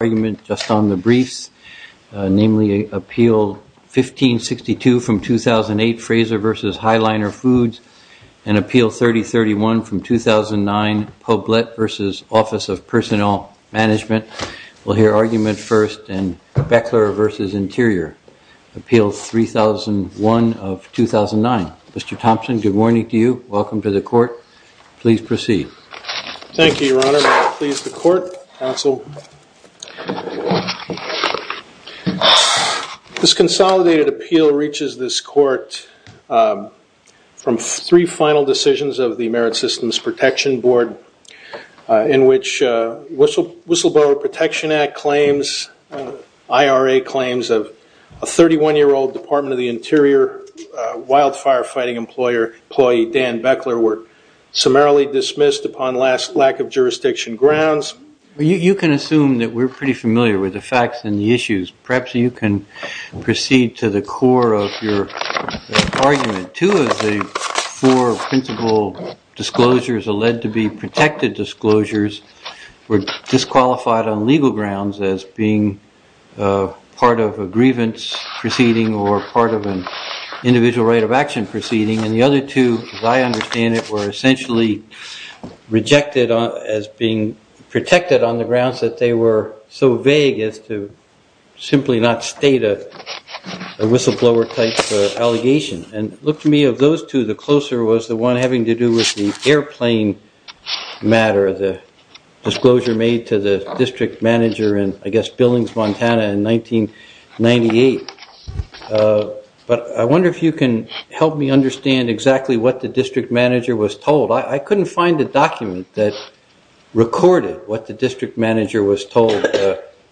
argument just on the briefs, namely Appeal 1562 from 2008, Fraser v. Highliner Foods, and Appeal 3031 from 2009, Poblet v. Office of Personnel Management. We'll hear argument first, and Bechler v. Interior, Appeal 3001 of 2009. Mr. Thompson, good morning to you, welcome to the Court. Please proceed. Thank you, Your Honor. May it please the Court, Counsel. This consolidated appeal reaches this Court from three final decisions of the Merit Systems Protection Board, in which Whistleblower Protection Act claims, IRA claims of a 31-year-old Department of the Interior wildfire-fighting employee, Dan Bechler, were summarily dismissed upon last lack of jurisdiction grounds. You can assume that we're pretty familiar with the facts and the issues. Perhaps you can proceed to the core of your argument. Two of the four principal disclosures are led to be protected disclosures, were disqualified on legal grounds as being part of a grievance proceeding or part of an individual right of action proceeding, and the other two, as I understand it, were essentially rejected as being protected on the grounds that they were so vague as to simply not state a whistleblower-type allegation. And look to me, of those two, the closer was the one having to do with the airplane matter, the disclosure made to the district manager in, I guess, Billings, Montana in 1998. But I wonder if you can help me understand exactly what the district manager was told. I couldn't find a document that recorded what the district manager was told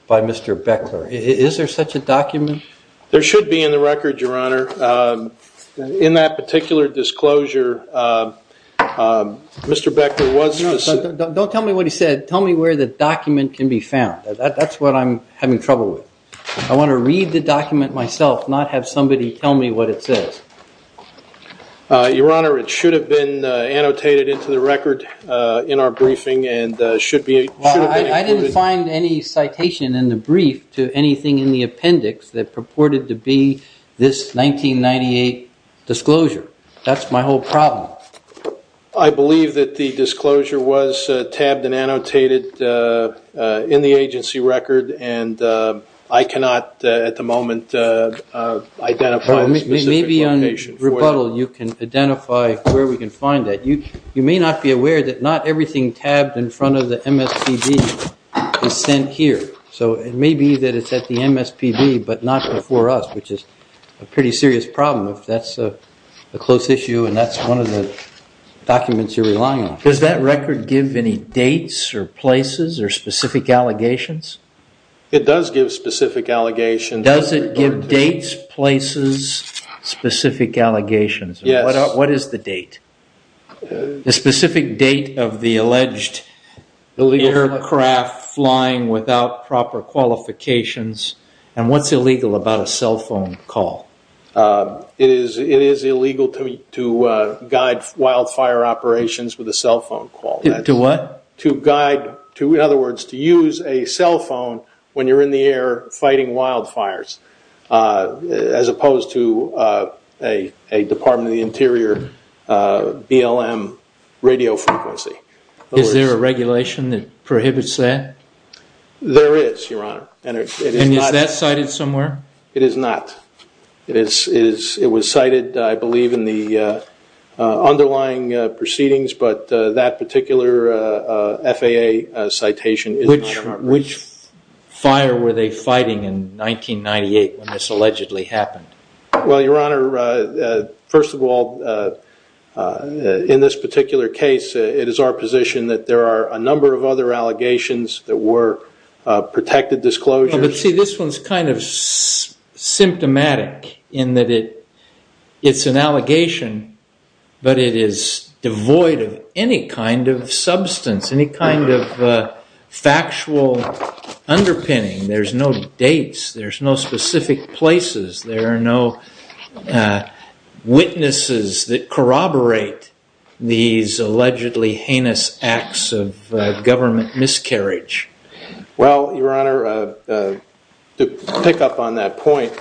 by Mr. Bechler. Is there such a document? There should be in the record, Your Honor. In that particular disclosure, Mr. Bechler was... No, don't tell me what he said. Tell me where the document can be found. That's what I'm having trouble with. I want to read the document myself, not have somebody tell me what it says. Your Honor, it should have been annotated into the record in our briefing and should be... I didn't find any citation in the brief to anything in the appendix that purported to be this 1998 disclosure. That's my whole problem. I believe that the disclosure was tabbed and annotated in the agency record and I cannot, at the moment, identify a specific location. Maybe on rebuttal you can identify where we can find that. You may not be aware that not everything tabbed in front of the MSPB is sent here. So it may be that it's at the MSPB but not before us, which is a pretty serious problem if that's a close issue and that's one of the documents you're relying on. Does that record give any dates or places or specific allegations? It does give specific allegations. Does it give dates, places, specific allegations? Yes. What is the date? The specific date of the alleged aircraft flying without proper qualifications and what's illegal about a cell phone call? It is illegal to guide wildfire operations with a cell phone call. To what? In other words, to use a cell phone when you're in the air fighting wildfires as opposed to a Department of the Interior BLM radio frequency. Is there a regulation that prohibits that? There is, Your Honor. Is that cited somewhere? It is not. It was cited, I believe, in the underlying proceedings but that particular FAA citation is not. Which fire were they fighting in 1998 when this allegedly happened? Well, Your Honor, first of all, in this particular case, it is our position that there are a number of other allegations that were protected disclosures. But see, this one's kind of symptomatic in that it's an allegation but it is devoid of any kind of substance, any kind of factual underpinning. There's no dates. There's no specific places. There are no witnesses that corroborate these allegedly heinous acts of government miscarriage. Well, Your Honor, to pick up on that point,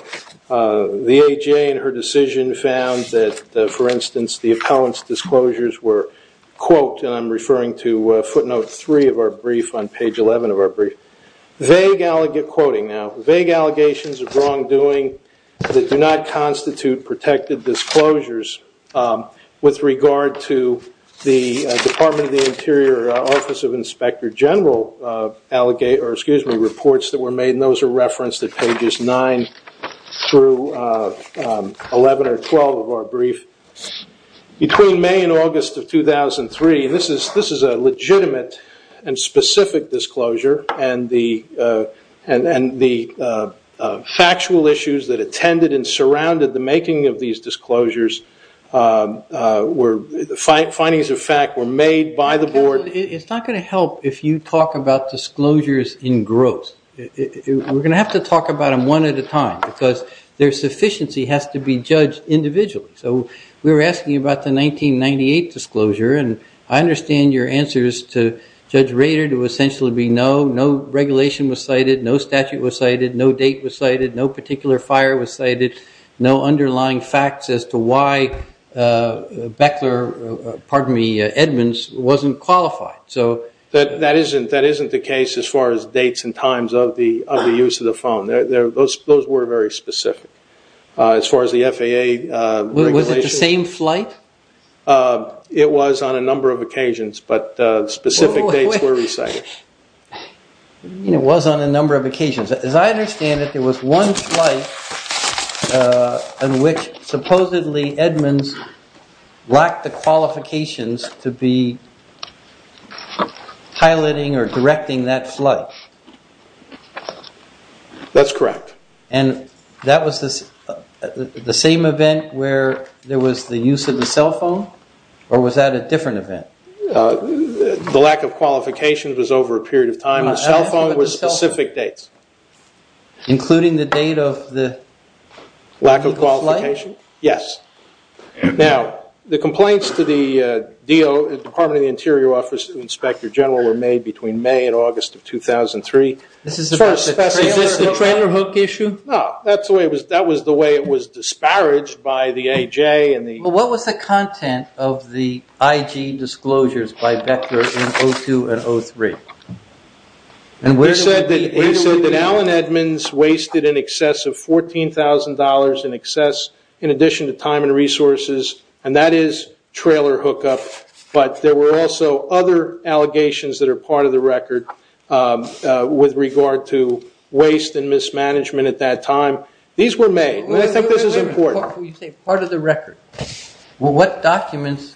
the AJA in her decision found that, for instance, the appellant's disclosures were, quote, and I'm referring to footnote three of our brief on page 11 of our brief, vague allegations of wrongdoing that do not constitute protected disclosures with regard to the Department of the Interior Office of Inspector General reports that were made. And those are referenced at pages 9 through 11 or 12 of our brief. Between May and August of 2003, and this is a legitimate and specific disclosure, and the findings of fact were made by the board. It's not going to help if you talk about disclosures in gross. We're going to have to talk about them one at a time because their sufficiency has to be judged individually. So we were asking about the 1998 disclosure, and I understand your answers to Judge Rader to essentially be no, no regulation was cited, no statute was cited, no date was cited, no particular fire was cited, no underlying facts as to why Beckler, pardon me, Edmonds wasn't qualified. So that isn't the case as far as dates and times of the use of the phone. Those were very specific. As far as the FAA. Was it the same flight? It was on a number of occasions, but specific dates were recited. It was on a number of occasions. As I understand it, there was one flight in which supposedly Edmonds lacked the qualifications to be piloting or directing that flight. That's correct. And that was the same event where there was the use of the cell phone or was that a different event? The lack of qualifications was over a period of time. The cell phone was specific dates. Including the date of the legal flight? Lack of qualification, yes. Now, the complaints to the DO, Department of the Interior Office to the Inspector General were made between May and August of 2003. Is this the trailer hook issue? No, that was the way it was disparaged by the AJ and the- What was the content of the IG disclosures by Vector in 2002 and 2003? We said that Allen Edmonds wasted in excess of $14,000 in excess, in addition to time and resources, and that is trailer hookup. But there were also other allegations that are part of the record with regard to waste and mismanagement at that time. These were made. I think this is part of the record. What documents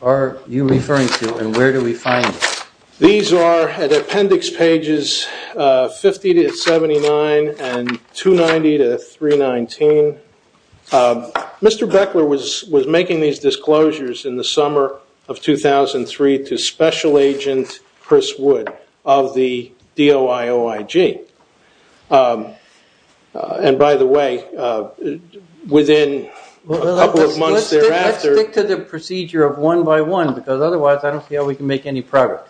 are you referring to and where do we find them? These are at appendix pages 50-79 and 290-319. Mr. Beckler was making these disclosures in the Let's stick to the procedure of one by one because otherwise I don't see how we can make any progress.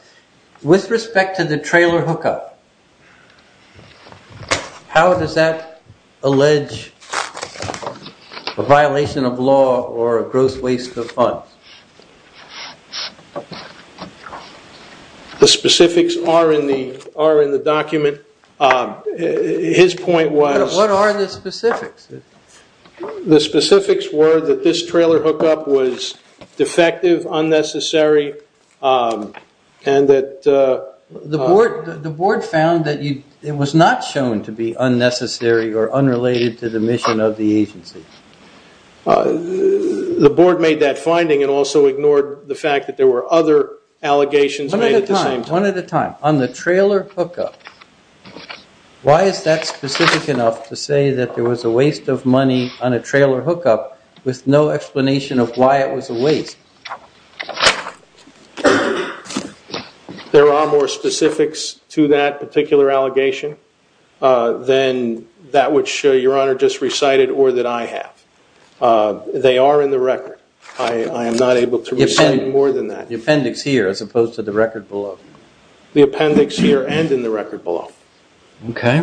With respect to the trailer hookup, how does that allege a violation of law or a gross waste of funds? The specifics are in the document. His point was- What are the specifics? The specifics were that this trailer hookup was defective, unnecessary, and that- The board found that it was not shown to be unnecessary or unrelated to the mission of the agency. The board made that finding and also ignored the fact that there were other allegations made at the same time. One at a time. On the trailer hookup, why is that specific enough to say that there was a trailer hookup with no explanation of why it was a waste? There are more specifics to that particular allegation than that which Your Honor just recited or that I have. They are in the record. I am not able to- The appendix here as opposed to the record below. The appendix here and in the record below. Okay.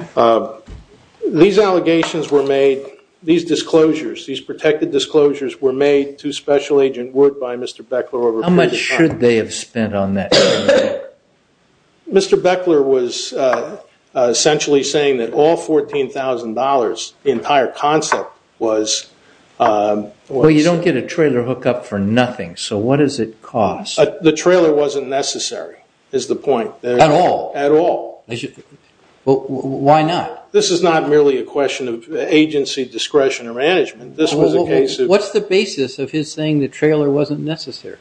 These allegations were made, these disclosures, these protected disclosures were made to Special Agent Wood by Mr. Beckler over- How much should they have spent on that? Mr. Beckler was essentially saying that all $14,000, the entire concept was- You don't get a trailer hookup for nothing, so what does it cost? The trailer wasn't necessary is the point. At all? At all. Why not? This is not merely a question of agency discretion or management. This was a case of- What's the basis of his saying the trailer wasn't necessary?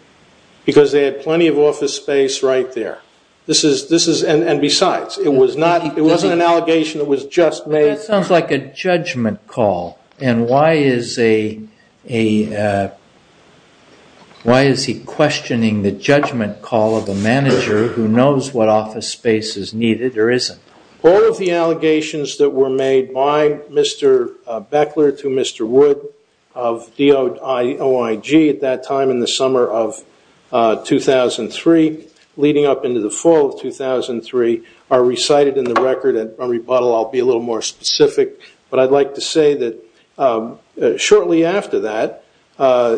Because they had plenty of office space right there. And besides, it wasn't an allegation, it was just made- That sounds like a judgment call and why is he questioning the judgment call of a All of the allegations that were made by Mr. Beckler to Mr. Wood of DOIG at that time in the summer of 2003 leading up into the fall of 2003 are recited in the record and on rebuttal I'll be a little more specific, but I'd like to say that shortly after that,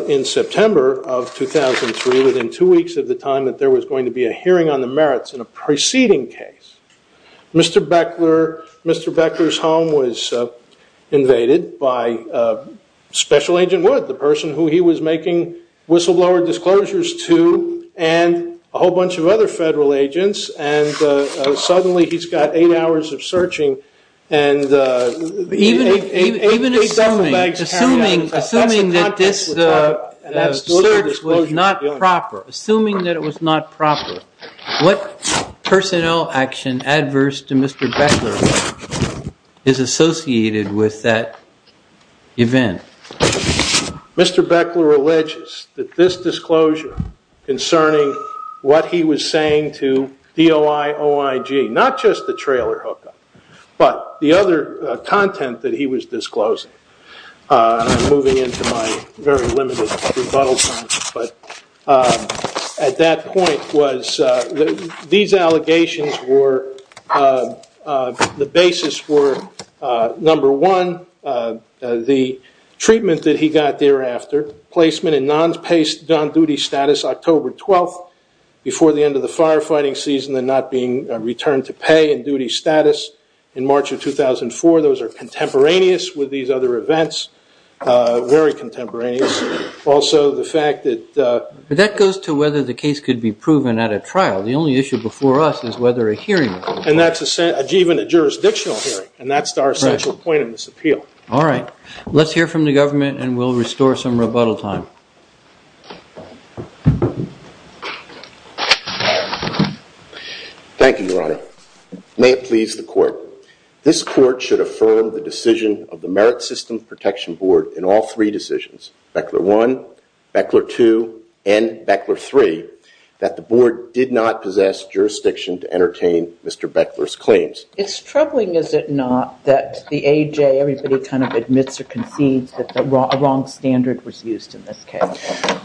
in September of 2003, within two weeks of the time that there was going to be a hearing on the merits in a preceding case, Mr. Beckler's home was invaded by Special Agent Wood, the person who he was making whistleblower disclosures to, and a whole bunch of other federal agents, and suddenly he's got eight hours of searching and- Even assuming that this search was not proper, assuming that it was not proper, what personnel action adverse to Mr. Beckler is associated with that event? Mr. Beckler alleges that this disclosure concerning what he was saying to DOIOIG, not just the trailer hookup, but the other content that he was disclosing, and I'm moving into my very limited rebuttal time, but at that point was, these allegations were, the basis were, number one, the treatment that he got thereafter, placement in non-pay, non-duty status October 12th before the end of the firefighting season and not being returned to pay and duty status in March of 2004, those are contemporaneous with these other events, very contemporaneous, also the fact that- That goes to whether the case could be proven at a trial, the only issue before us is whether a hearing- And that's even a jurisdictional hearing, and that's our central point in this appeal. All right, let's hear from the government and we'll restore some rebuttal time. Thank you, Your Honor. May it please the board in all three decisions, Beckler 1, Beckler 2, and Beckler 3, that the board did not possess jurisdiction to entertain Mr. Beckler's claims? It's troubling, is it not, that the AJ, everybody kind of admits or concedes that the wrong standard was used in this case?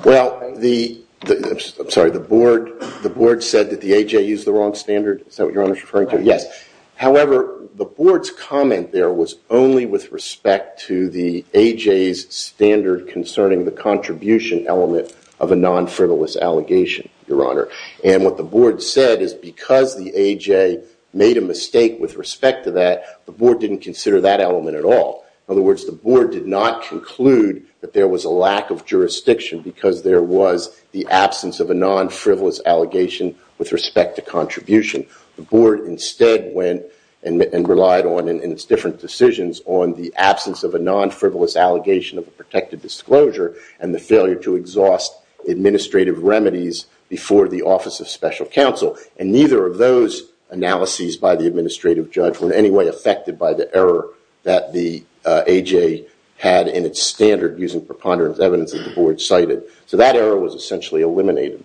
Well, I'm sorry, the board said that the AJ used the wrong standard? Is that what However, the board's comment there was only with respect to the AJ's standard concerning the contribution element of a non-frivolous allegation, Your Honor. And what the board said is because the AJ made a mistake with respect to that, the board didn't consider that element at all. In other words, the board did not conclude that there was a lack of jurisdiction because there was the absence of a non-frivolous allegation with respect to contribution. The board instead went and relied on, in its different decisions, on the absence of a non-frivolous allegation of a protected disclosure and the failure to exhaust administrative remedies before the Office of Special Counsel. And neither of those analyses by the administrative judge were in any way affected by the error that the AJ had in its standard using preponderance evidence that the board cited. So that error was essentially eliminated.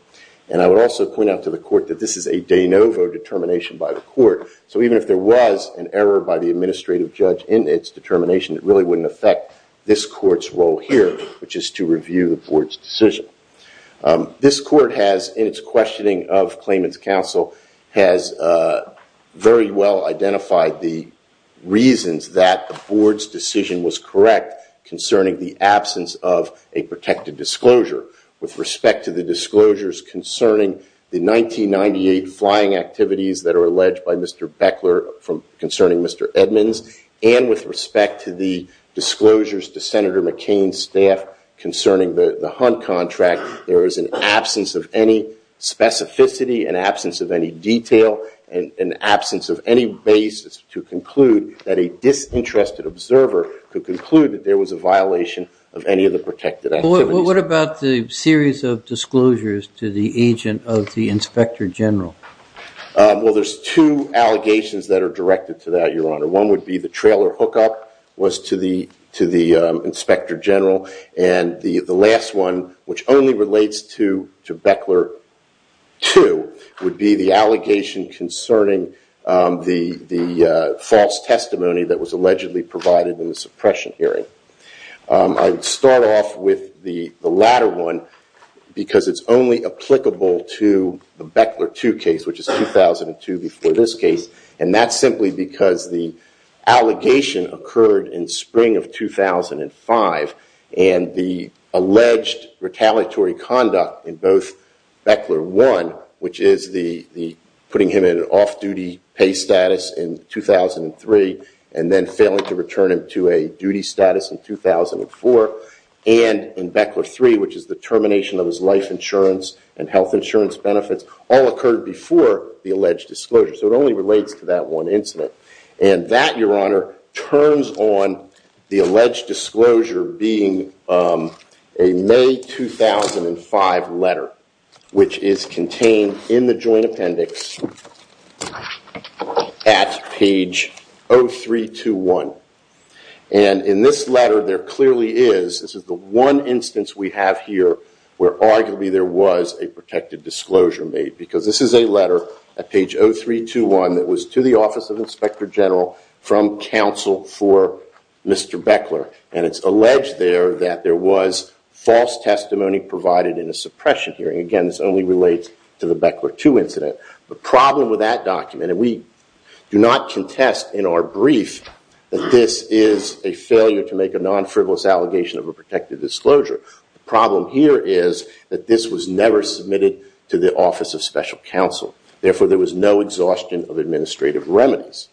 And I would also point out to the determination by the court. So even if there was an error by the administrative judge in its determination, it really wouldn't affect this court's role here, which is to review the board's decision. This court has, in its questioning of claimant's counsel, has very well identified the reasons that the board's decision was correct concerning the absence of a protected disclosure with respect to the disclosures concerning the 1998 flying activities that are alleged by Mr. Beckler concerning Mr. Edmonds and with respect to the disclosures to Senator McCain's staff concerning the hunt contract. There is an absence of any specificity, an absence of any detail, and an absence of any basis to conclude that a disinterested observer could conclude that there was a violation of any of the protected activities. Well, what about the series of disclosures to the agent of the inspector general? Well, there's two allegations that are directed to that, Your Honor. One would be the trailer hookup was to the inspector general. And the last one, which only relates to Beckler 2, would be the allegation concerning the false testimony that was allegedly provided in the suppression hearing. I'd start off with the latter one because it's only applicable to the Beckler 2 case, which is 2002 before this case. And that's simply because the allegation occurred in spring of 2005. And the alleged retaliatory conduct in Beckler 1, which is putting him in an off-duty pay status in 2003, and then failing to return him to a duty status in 2004, and in Beckler 3, which is the termination of his life insurance and health insurance benefits, all occurred before the alleged disclosure. So it only relates to one incident. And that, Your Honor, turns on the alleged disclosure being a May 2005 letter, which is contained in the joint appendix at page 0321. And in this letter, there clearly is, this is the one instance we have here where arguably there was a protected disclosure made, because this is a letter at page 0321 that was to the Office of Inspector General from counsel for Mr. Beckler. And it's alleged there that there was false testimony provided in a suppression hearing. Again, this only relates to the Beckler 2 incident. The problem with that document, and we do not contest in our brief that this is a failure to make a non-frivolous allegation of protected disclosure. The problem here is that this was never submitted to the Office of Special Counsel. Therefore, there was no exhaustion of administrative remedies.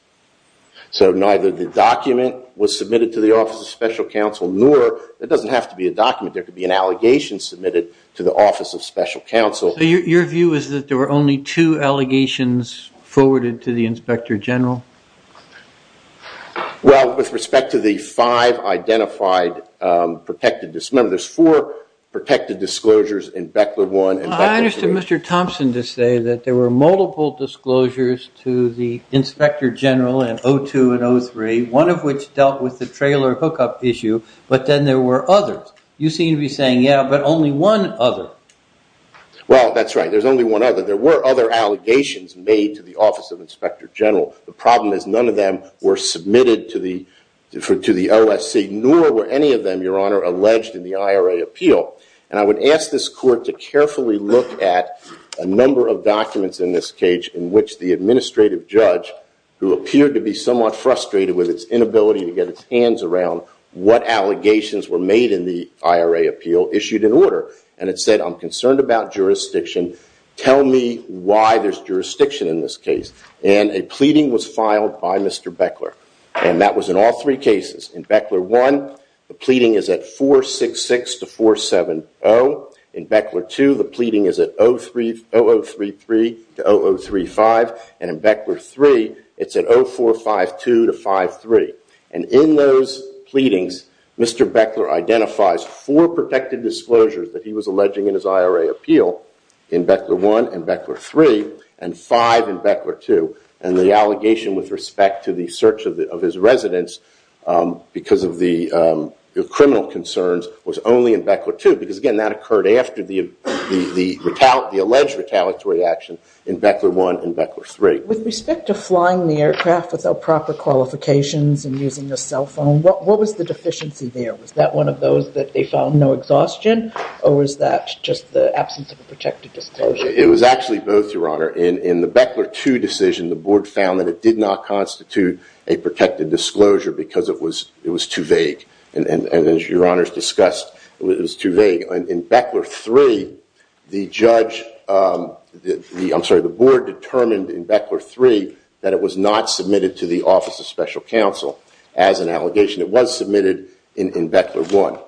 So neither the document was submitted to the Office of Special Counsel, nor it doesn't have to be a document. There could be an allegation submitted to the Office of Special Counsel. So your view is that there were only two allegations forwarded to the Inspector General? Well, with respect to the five identified protected disclosures, there's four protected disclosures in Beckler 1 and Beckler 2. I understood Mr. Thompson to say that there were multiple disclosures to the Inspector General in 02 and 03, one of which dealt with the trailer hookup issue, but then there were others. You seem to be saying, yeah, but only one other. Well, that's right. There's only one other. There were other allegations made to the Office of Inspector General. The problem is none of them were submitted to the OSC, nor were any of them, Your Honor, alleged in the IRA appeal. And I would ask this court to carefully look at a number of documents in this case in which the administrative judge, who appeared to be somewhat frustrated with its inability to get its hands around what allegations were made in the IRA appeal, issued an order. And it said, I'm concerned about jurisdiction. Tell me why there's jurisdiction in this case. And a pleading was filed by Mr. Beckler. And that was in all three cases. In Beckler 1, the pleading is at 466 to 470. In Beckler 2, the pleading is at 0033 to 0035. And in Beckler 3, it's at 0452 to 053. And in those pleadings, Mr. Beckler identifies four protected disclosures that he was alleging in his IRA appeal in Beckler 1 and Beckler 3, and five in Beckler 2. And the allegation with respect to the search of his residence because of the criminal concerns was only in Beckler 2. Because again, that occurred after the alleged retaliatory action in Beckler 1 and Beckler 3. With respect to flying the aircraft without proper qualifications and using a cell phone, what was the deficiency there? Was that of those that they found no exhaustion? Or was that just the absence of a protected disclosure? It was actually both, Your Honor. In the Beckler 2 decision, the board found that it did not constitute a protected disclosure because it was too vague. And as Your Honors discussed, it was too vague. In Beckler 3, the judge, I'm sorry, the board determined in Beckler 3 that it was not submitted to the Office of Special Counsel as an allegation. It was submitted in Beckler 1.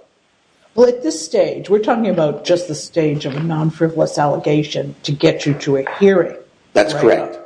Well, at this stage, we're talking about just the stage of non-frivolous allegation to get you to a hearing. That's correct.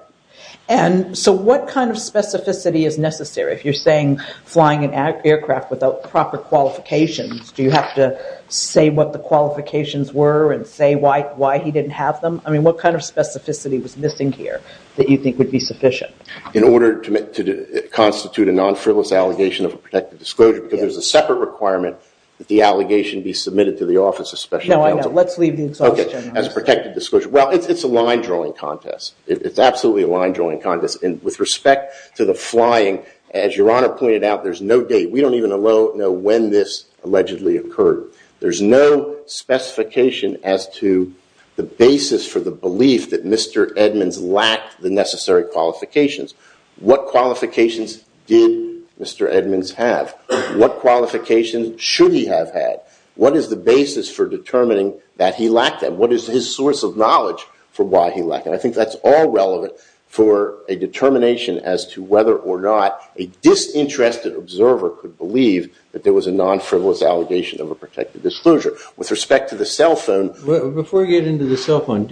And so what kind of specificity is necessary? If you're saying flying an aircraft without proper qualifications, do you have to say what the qualifications were and say why he didn't have them? I mean, what kind of specificity was missing here that you think would be sufficient? In order to constitute a non-frivolous allegation of a protected disclosure, because there's a separate requirement that the allegation be submitted to the Office of Special Counsel. No, I know. Let's leave the exhaustion. As a protected disclosure. Well, it's a line-drawing contest. It's absolutely a line-drawing contest. And with respect to the flying, as Your Honor pointed out, there's no date. We don't even know when this allegedly occurred. There's no specification as to the basis for the belief that Mr. Edmonds lacked the necessary qualifications. What qualifications did Mr. Edmonds have? What qualifications should he have had? What is the basis for determining that he lacked them? What is his source of knowledge for why he lacked them? I think that's all relevant for a determination as to whether or not a disinterested observer could believe that there was a non-frivolous allegation of a protected disclosure. With respect to the cell phone. Before we get into the cell phone,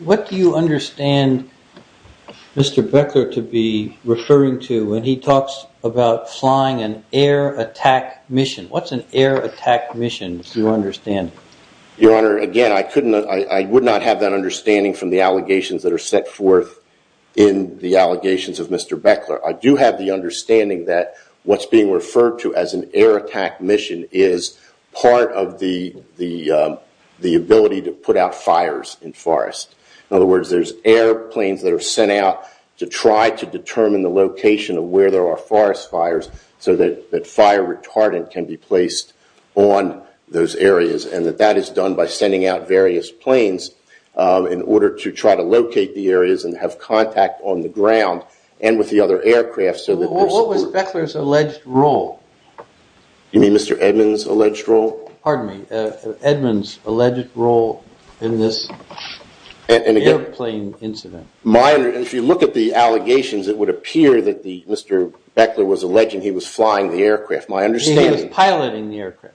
what do you understand Mr. Beckler to be referring to when he talks about flying an air attack mission? What's an air attack mission, if you understand? Your Honor, again, I would not have that understanding from the allegations that are set forth in the allegations of Mr. Beckler. I do have the understanding that what's being In other words, there's airplanes that are sent out to try to determine the location of where there are forest fires so that fire retardant can be placed on those areas. That is done by sending out various planes in order to try to locate the areas and have contact on the ground and with the other aircraft. What was Beckler's alleged role? You mean Mr. Edmonds' alleged role? Pardon me, Edmonds' alleged role in this airplane incident. If you look at the allegations, it would appear that Mr. Beckler was alleging he was flying the aircraft. He was piloting the aircraft.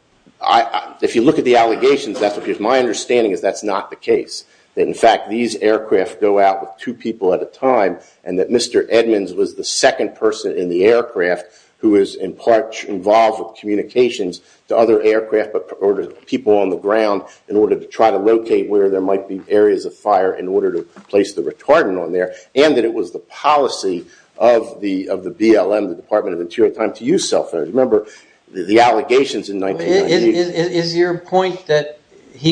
If you look at the allegations, my understanding is that's not the case. In fact, these aircraft go out with two people at a time and that Mr. Edmonds was the second person in the aircraft who was in part involved with communications to other aircraft or to people on the ground in order to try to locate where there might be areas of fire in order to place the retardant on there and that it was the policy of the BLM, the Department of Interior at the time, to use cell phones. Remember the allegations in 1998. Is your point that he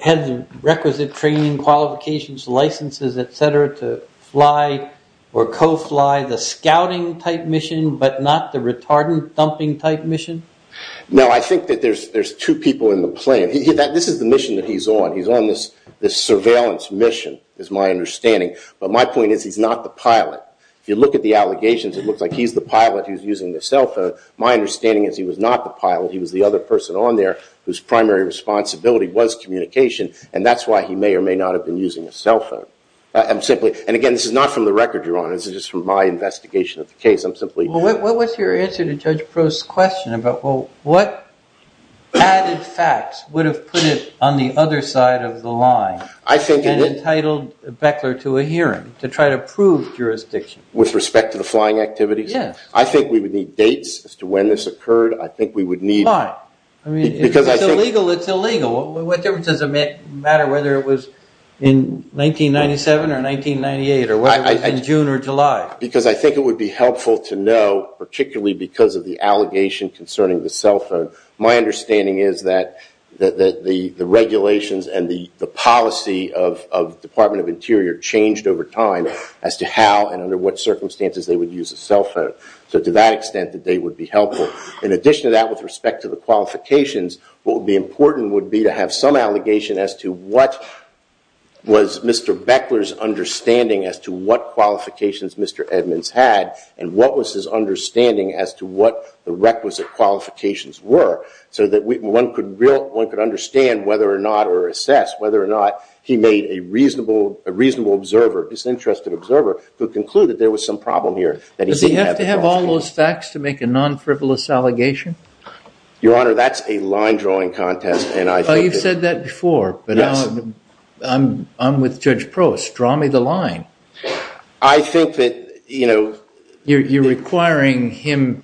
had the requisite training, qualifications, licenses, etc. to fly or co-fly the scouting type mission but not the retardant dumping type mission? No, I think that there's two people in the plane. This is the mission that he's on. He's on this surveillance mission is my understanding. But my point is he's not the pilot. If you look at the allegations, it looks like he's the pilot who's using the cell phone. My understanding is he was not the pilot. He was the other person on there whose primary responsibility was communication and that's why he may or may not have been using a cell phone. And again, this is not from the record, Your Honor. This is just from my investigation of the case. I'm simply- What's your answer to Judge Prost's question about what added facts would have put it on the other side of the line and entitled Beckler to a hearing to try to prove jurisdiction? With respect to the flying activities? Yes. I think we would need dates as to when this occurred. I think we would need- Why? It's illegal, it's illegal. What difference does it matter whether it was in 1997 or 1998 or whether it was in June or July? Because I think it would be helpful to know, particularly because of the allegation concerning the cell phone. My understanding is that the regulations and the policy of the Department of Interior changed over time as to how and under what circumstances they would use a cell phone. So to that extent, the date would be helpful. In addition to that, with respect to the qualifications, what would be important would be to have some allegation as to what was Mr. Beckler's understanding as to what qualifications Mr. Edmonds had, and what was his understanding as to what the requisite qualifications were, so that one could understand whether or not or assess whether or not he made a reasonable observer, disinterested observer, to conclude that there was some problem here. Does he have to have all those facts to make a non-frivolous allegation? Your Honor, that's a line drawing contest, and I- You've said that before, but I'm with Judge Prost. Draw me the line. I think that, you know- You're requiring him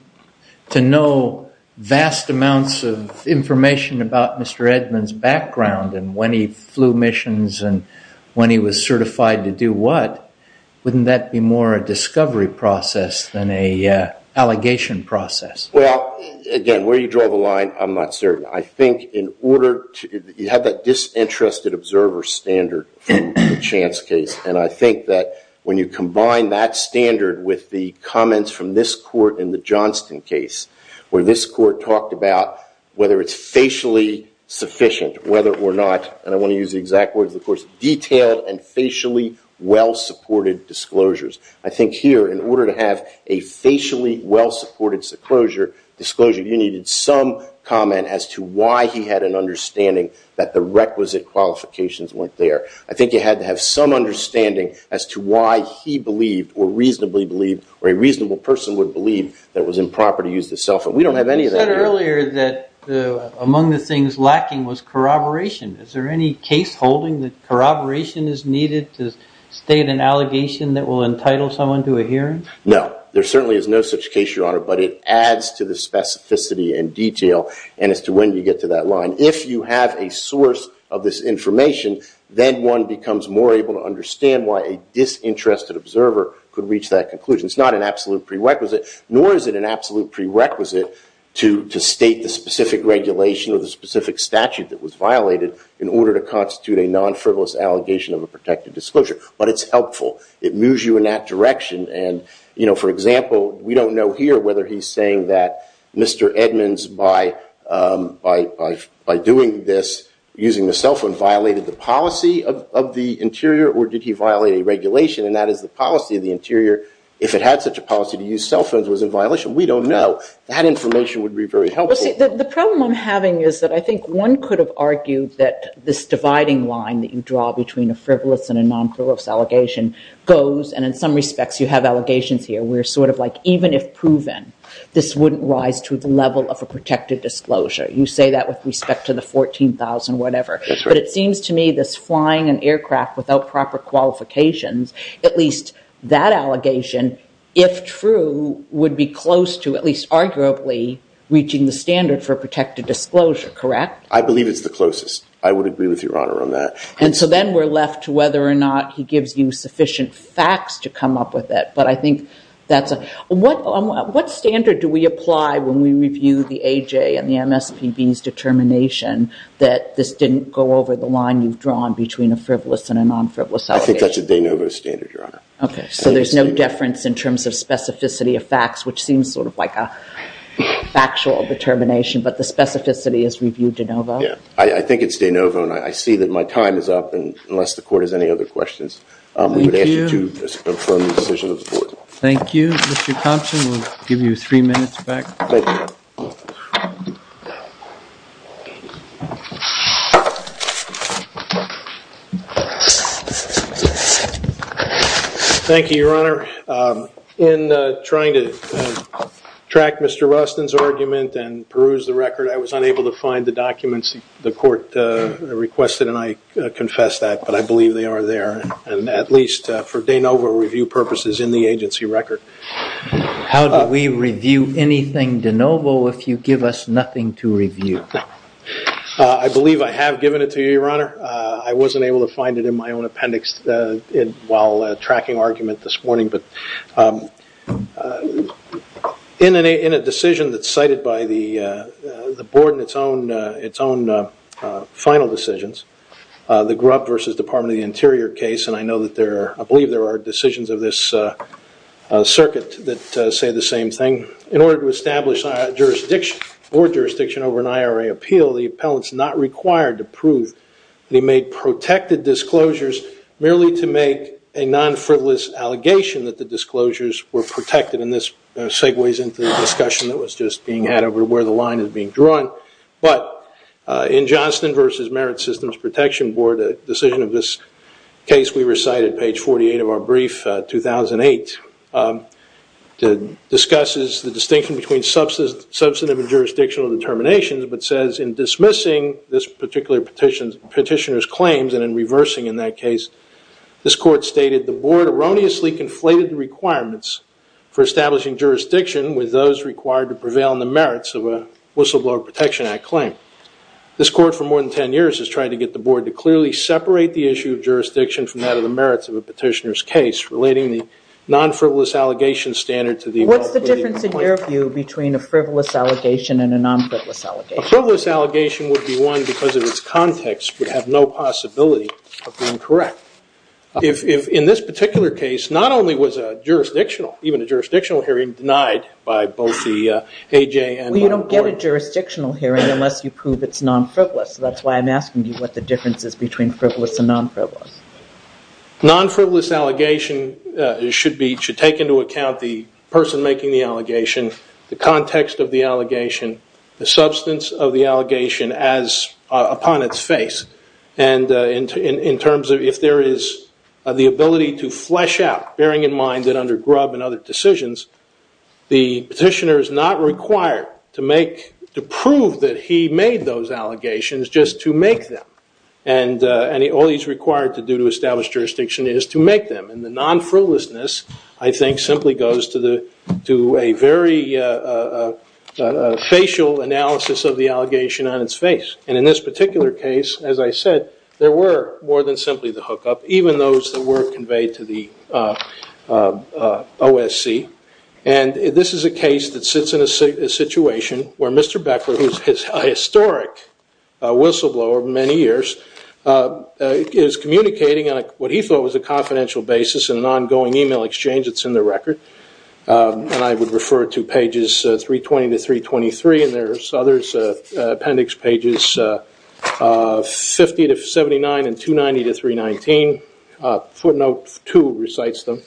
to know vast amounts of information about Mr. Edmonds' background and when he flew missions and when he was certified to do what. Wouldn't that be more a discovery process than an allegation process? Well, again, where you draw the line, I'm not certain. I think in order to- You had that disinterested observer standard in the Chance case, and I think that when you combine that standard with the comments from this court in the Johnston case, where this court talked about whether it's facially sufficient, whether or not- And I want to use the exact words of the court- Detailed and facially well-supported disclosures. I think here, in order to have a facially well-supported disclosure, you needed some comment as to why he had an understanding that the requisite qualifications weren't there. I think you had to have some understanding as to why he believed, or reasonably believed, or a reasonable person would believe, that it was improper to use the cell phone. We don't have any of that here. You said earlier that among the things lacking was corroboration. Is there any case holding that corroboration is needed to state an allegation that will entitle someone to a hearing? No. There certainly is no such case, Your Honor, but it adds to the specificity and detail, and as to when you get to that line. If you have a source of this information, then one becomes more able to understand why a disinterested observer could reach that conclusion. It's not an absolute prerequisite, nor is it an absolute prerequisite to state the specific regulation or the specific statute that was violated in order to constitute a non-frivolous allegation of a protected disclosure, but it's helpful. It moves you in that direction. For example, we don't know here whether he's saying that Mr. Edmonds, by doing this, using the cell phone, violated the policy of the interior, or did he violate a regulation, and that is the policy of the interior. If it had such a policy to use cell phones, was it a violation? We don't know. That information would be very helpful. The problem I'm having is that I think one could have argued that this dividing line that you draw between a frivolous and a non-frivolous allegation goes, and in some respects, you have allegations here where even if proven, this wouldn't rise to the level of a protected disclosure. You say that with respect to the 14,000 whatever, but it seems to me this flying an aircraft without proper qualifications, at least that allegation, if true, would be close to at least arguably reaching the standard for your honor on that. And so then we're left to whether or not he gives you sufficient facts to come up with it, but I think that's a... What standard do we apply when we review the AJ and the MSPB's determination that this didn't go over the line you've drawn between a frivolous and a non-frivolous allegation? I think that's a de novo standard, your honor. Okay, so there's no difference in terms of specificity of facts, which seems sort of like a factual determination, but the specificity is reviewed de novo? Yeah, I think it's de novo, and I see that my time is up, and unless the court has any other questions, we would ask you to confirm the decision of the court. Thank you. Mr. Thompson, we'll give you three minutes back. Thank you, your honor. In trying to track Mr. Rustin's argument and peruse the record, I was unable to find the documents the court requested, and I confess that, but I believe they are there, and at least for de novo review purposes in the agency record. How do we review anything de novo if you give us nothing to review? I believe I have given it to you, your honor. I wasn't able to find it in my own appendix while tracking argument this morning, but in a decision that's cited by the board in its own final decisions, the Grubb versus Department of the Interior case, and I believe there are decisions of this circuit that say the same thing. In order to establish board jurisdiction over an IRA appeal, the appellant's not required to prove that he made protected disclosures merely to make a non-frivolous allegation that the disclosures were protected, and this segues into the discussion that was just being had over where the line is being drawn, but in Johnston versus Merit Systems Protection Board, a decision of this case we recited, page 48 of our brief, 2008, that discusses the distinction between substantive and petitioner's claims, and in reversing in that case, this court stated the board erroneously conflated the requirements for establishing jurisdiction with those required to prevail in the merits of a whistleblower protection act claim. This court, for more than 10 years, has tried to get the board to clearly separate the issue of jurisdiction from that of the merits of a petitioner's case, relating the non-frivolous allegation standard to the... What's the difference in your view between a frivolous allegation and a non-frivolous allegation? A frivolous allegation would be one because of its context would have no possibility of being correct. If in this particular case, not only was a jurisdictional, even a jurisdictional hearing denied by both the AJ and... Well, you don't get a jurisdictional hearing unless you prove it's non-frivolous, so that's why I'm asking you what the difference is between frivolous and non-frivolous. Non-frivolous allegation should take into account the person making the allegation, the context of the allegation, the substance of the allegation upon its face. If there is the ability to flesh out, bearing in mind that under Grubb and other decisions, the petitioner is not required to prove that he made those allegations just to make them. All he's required to do to establish jurisdiction is to make them. The non-frivolousness, I think, simply goes to a very facial analysis of the allegation on its face. In this particular case, as I said, there were more than simply the hookup, even those that were conveyed to the OSC. This is a case that sits in a situation where Mr. Beckler, who is a historic whistleblower of many years, is communicating on what he thought was a confidential basis in an record. I would refer to pages 320 to 323, and there's others, appendix pages 50 to 79 and 290 to 319. Footnote 2 recites them.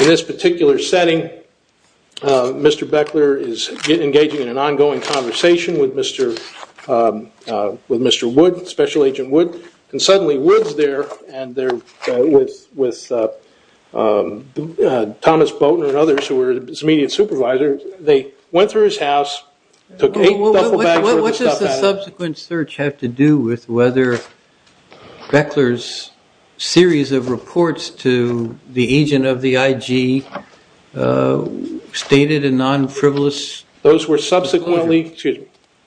In this particular setting, Mr. Beckler is engaging in an ongoing conversation with Mr. Wood, Special Agent Wood, and suddenly Wood's there with Thomas Boatner and others who were his immediate supervisors. They went through his house, took eight duffel bags worth of stuff out of him. What does the subsequent search have to do with whether Beckler's series of reports to the agent of the IG stated a non-frivolous... Those were subsequently communicated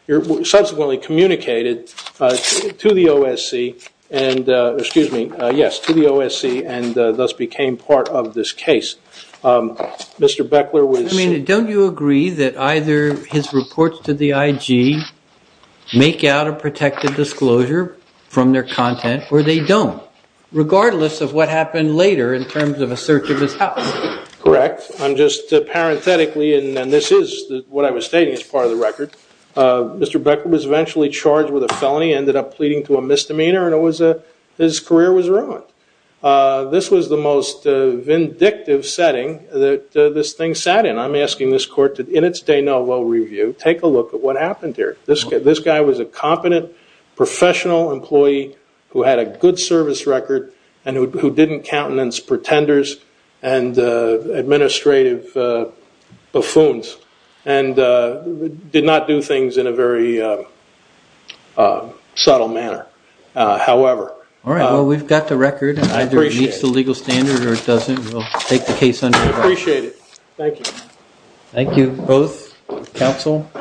to the OSC and thus became part of this case. Don't you agree that either his reports to the IG make out a protected disclosure from their content or they don't, regardless of what happened later in terms of a search of his records? Mr. Beckler was eventually charged with a felony, ended up pleading to a misdemeanor, and his career was ruined. This was the most vindictive setting that this thing sat in. I'm asking this court to, in its de novo review, take a look at what happened here. This guy was a competent, professional employee who had a good service record and who didn't countenance pretenders and administrative buffoons and did not do things in a very subtle manner. However... All right. Well, we've got the record. I appreciate it. Either it meets the legal standard or it doesn't. We'll take the case under... I appreciate it. Thank you. Thank you both, counsel.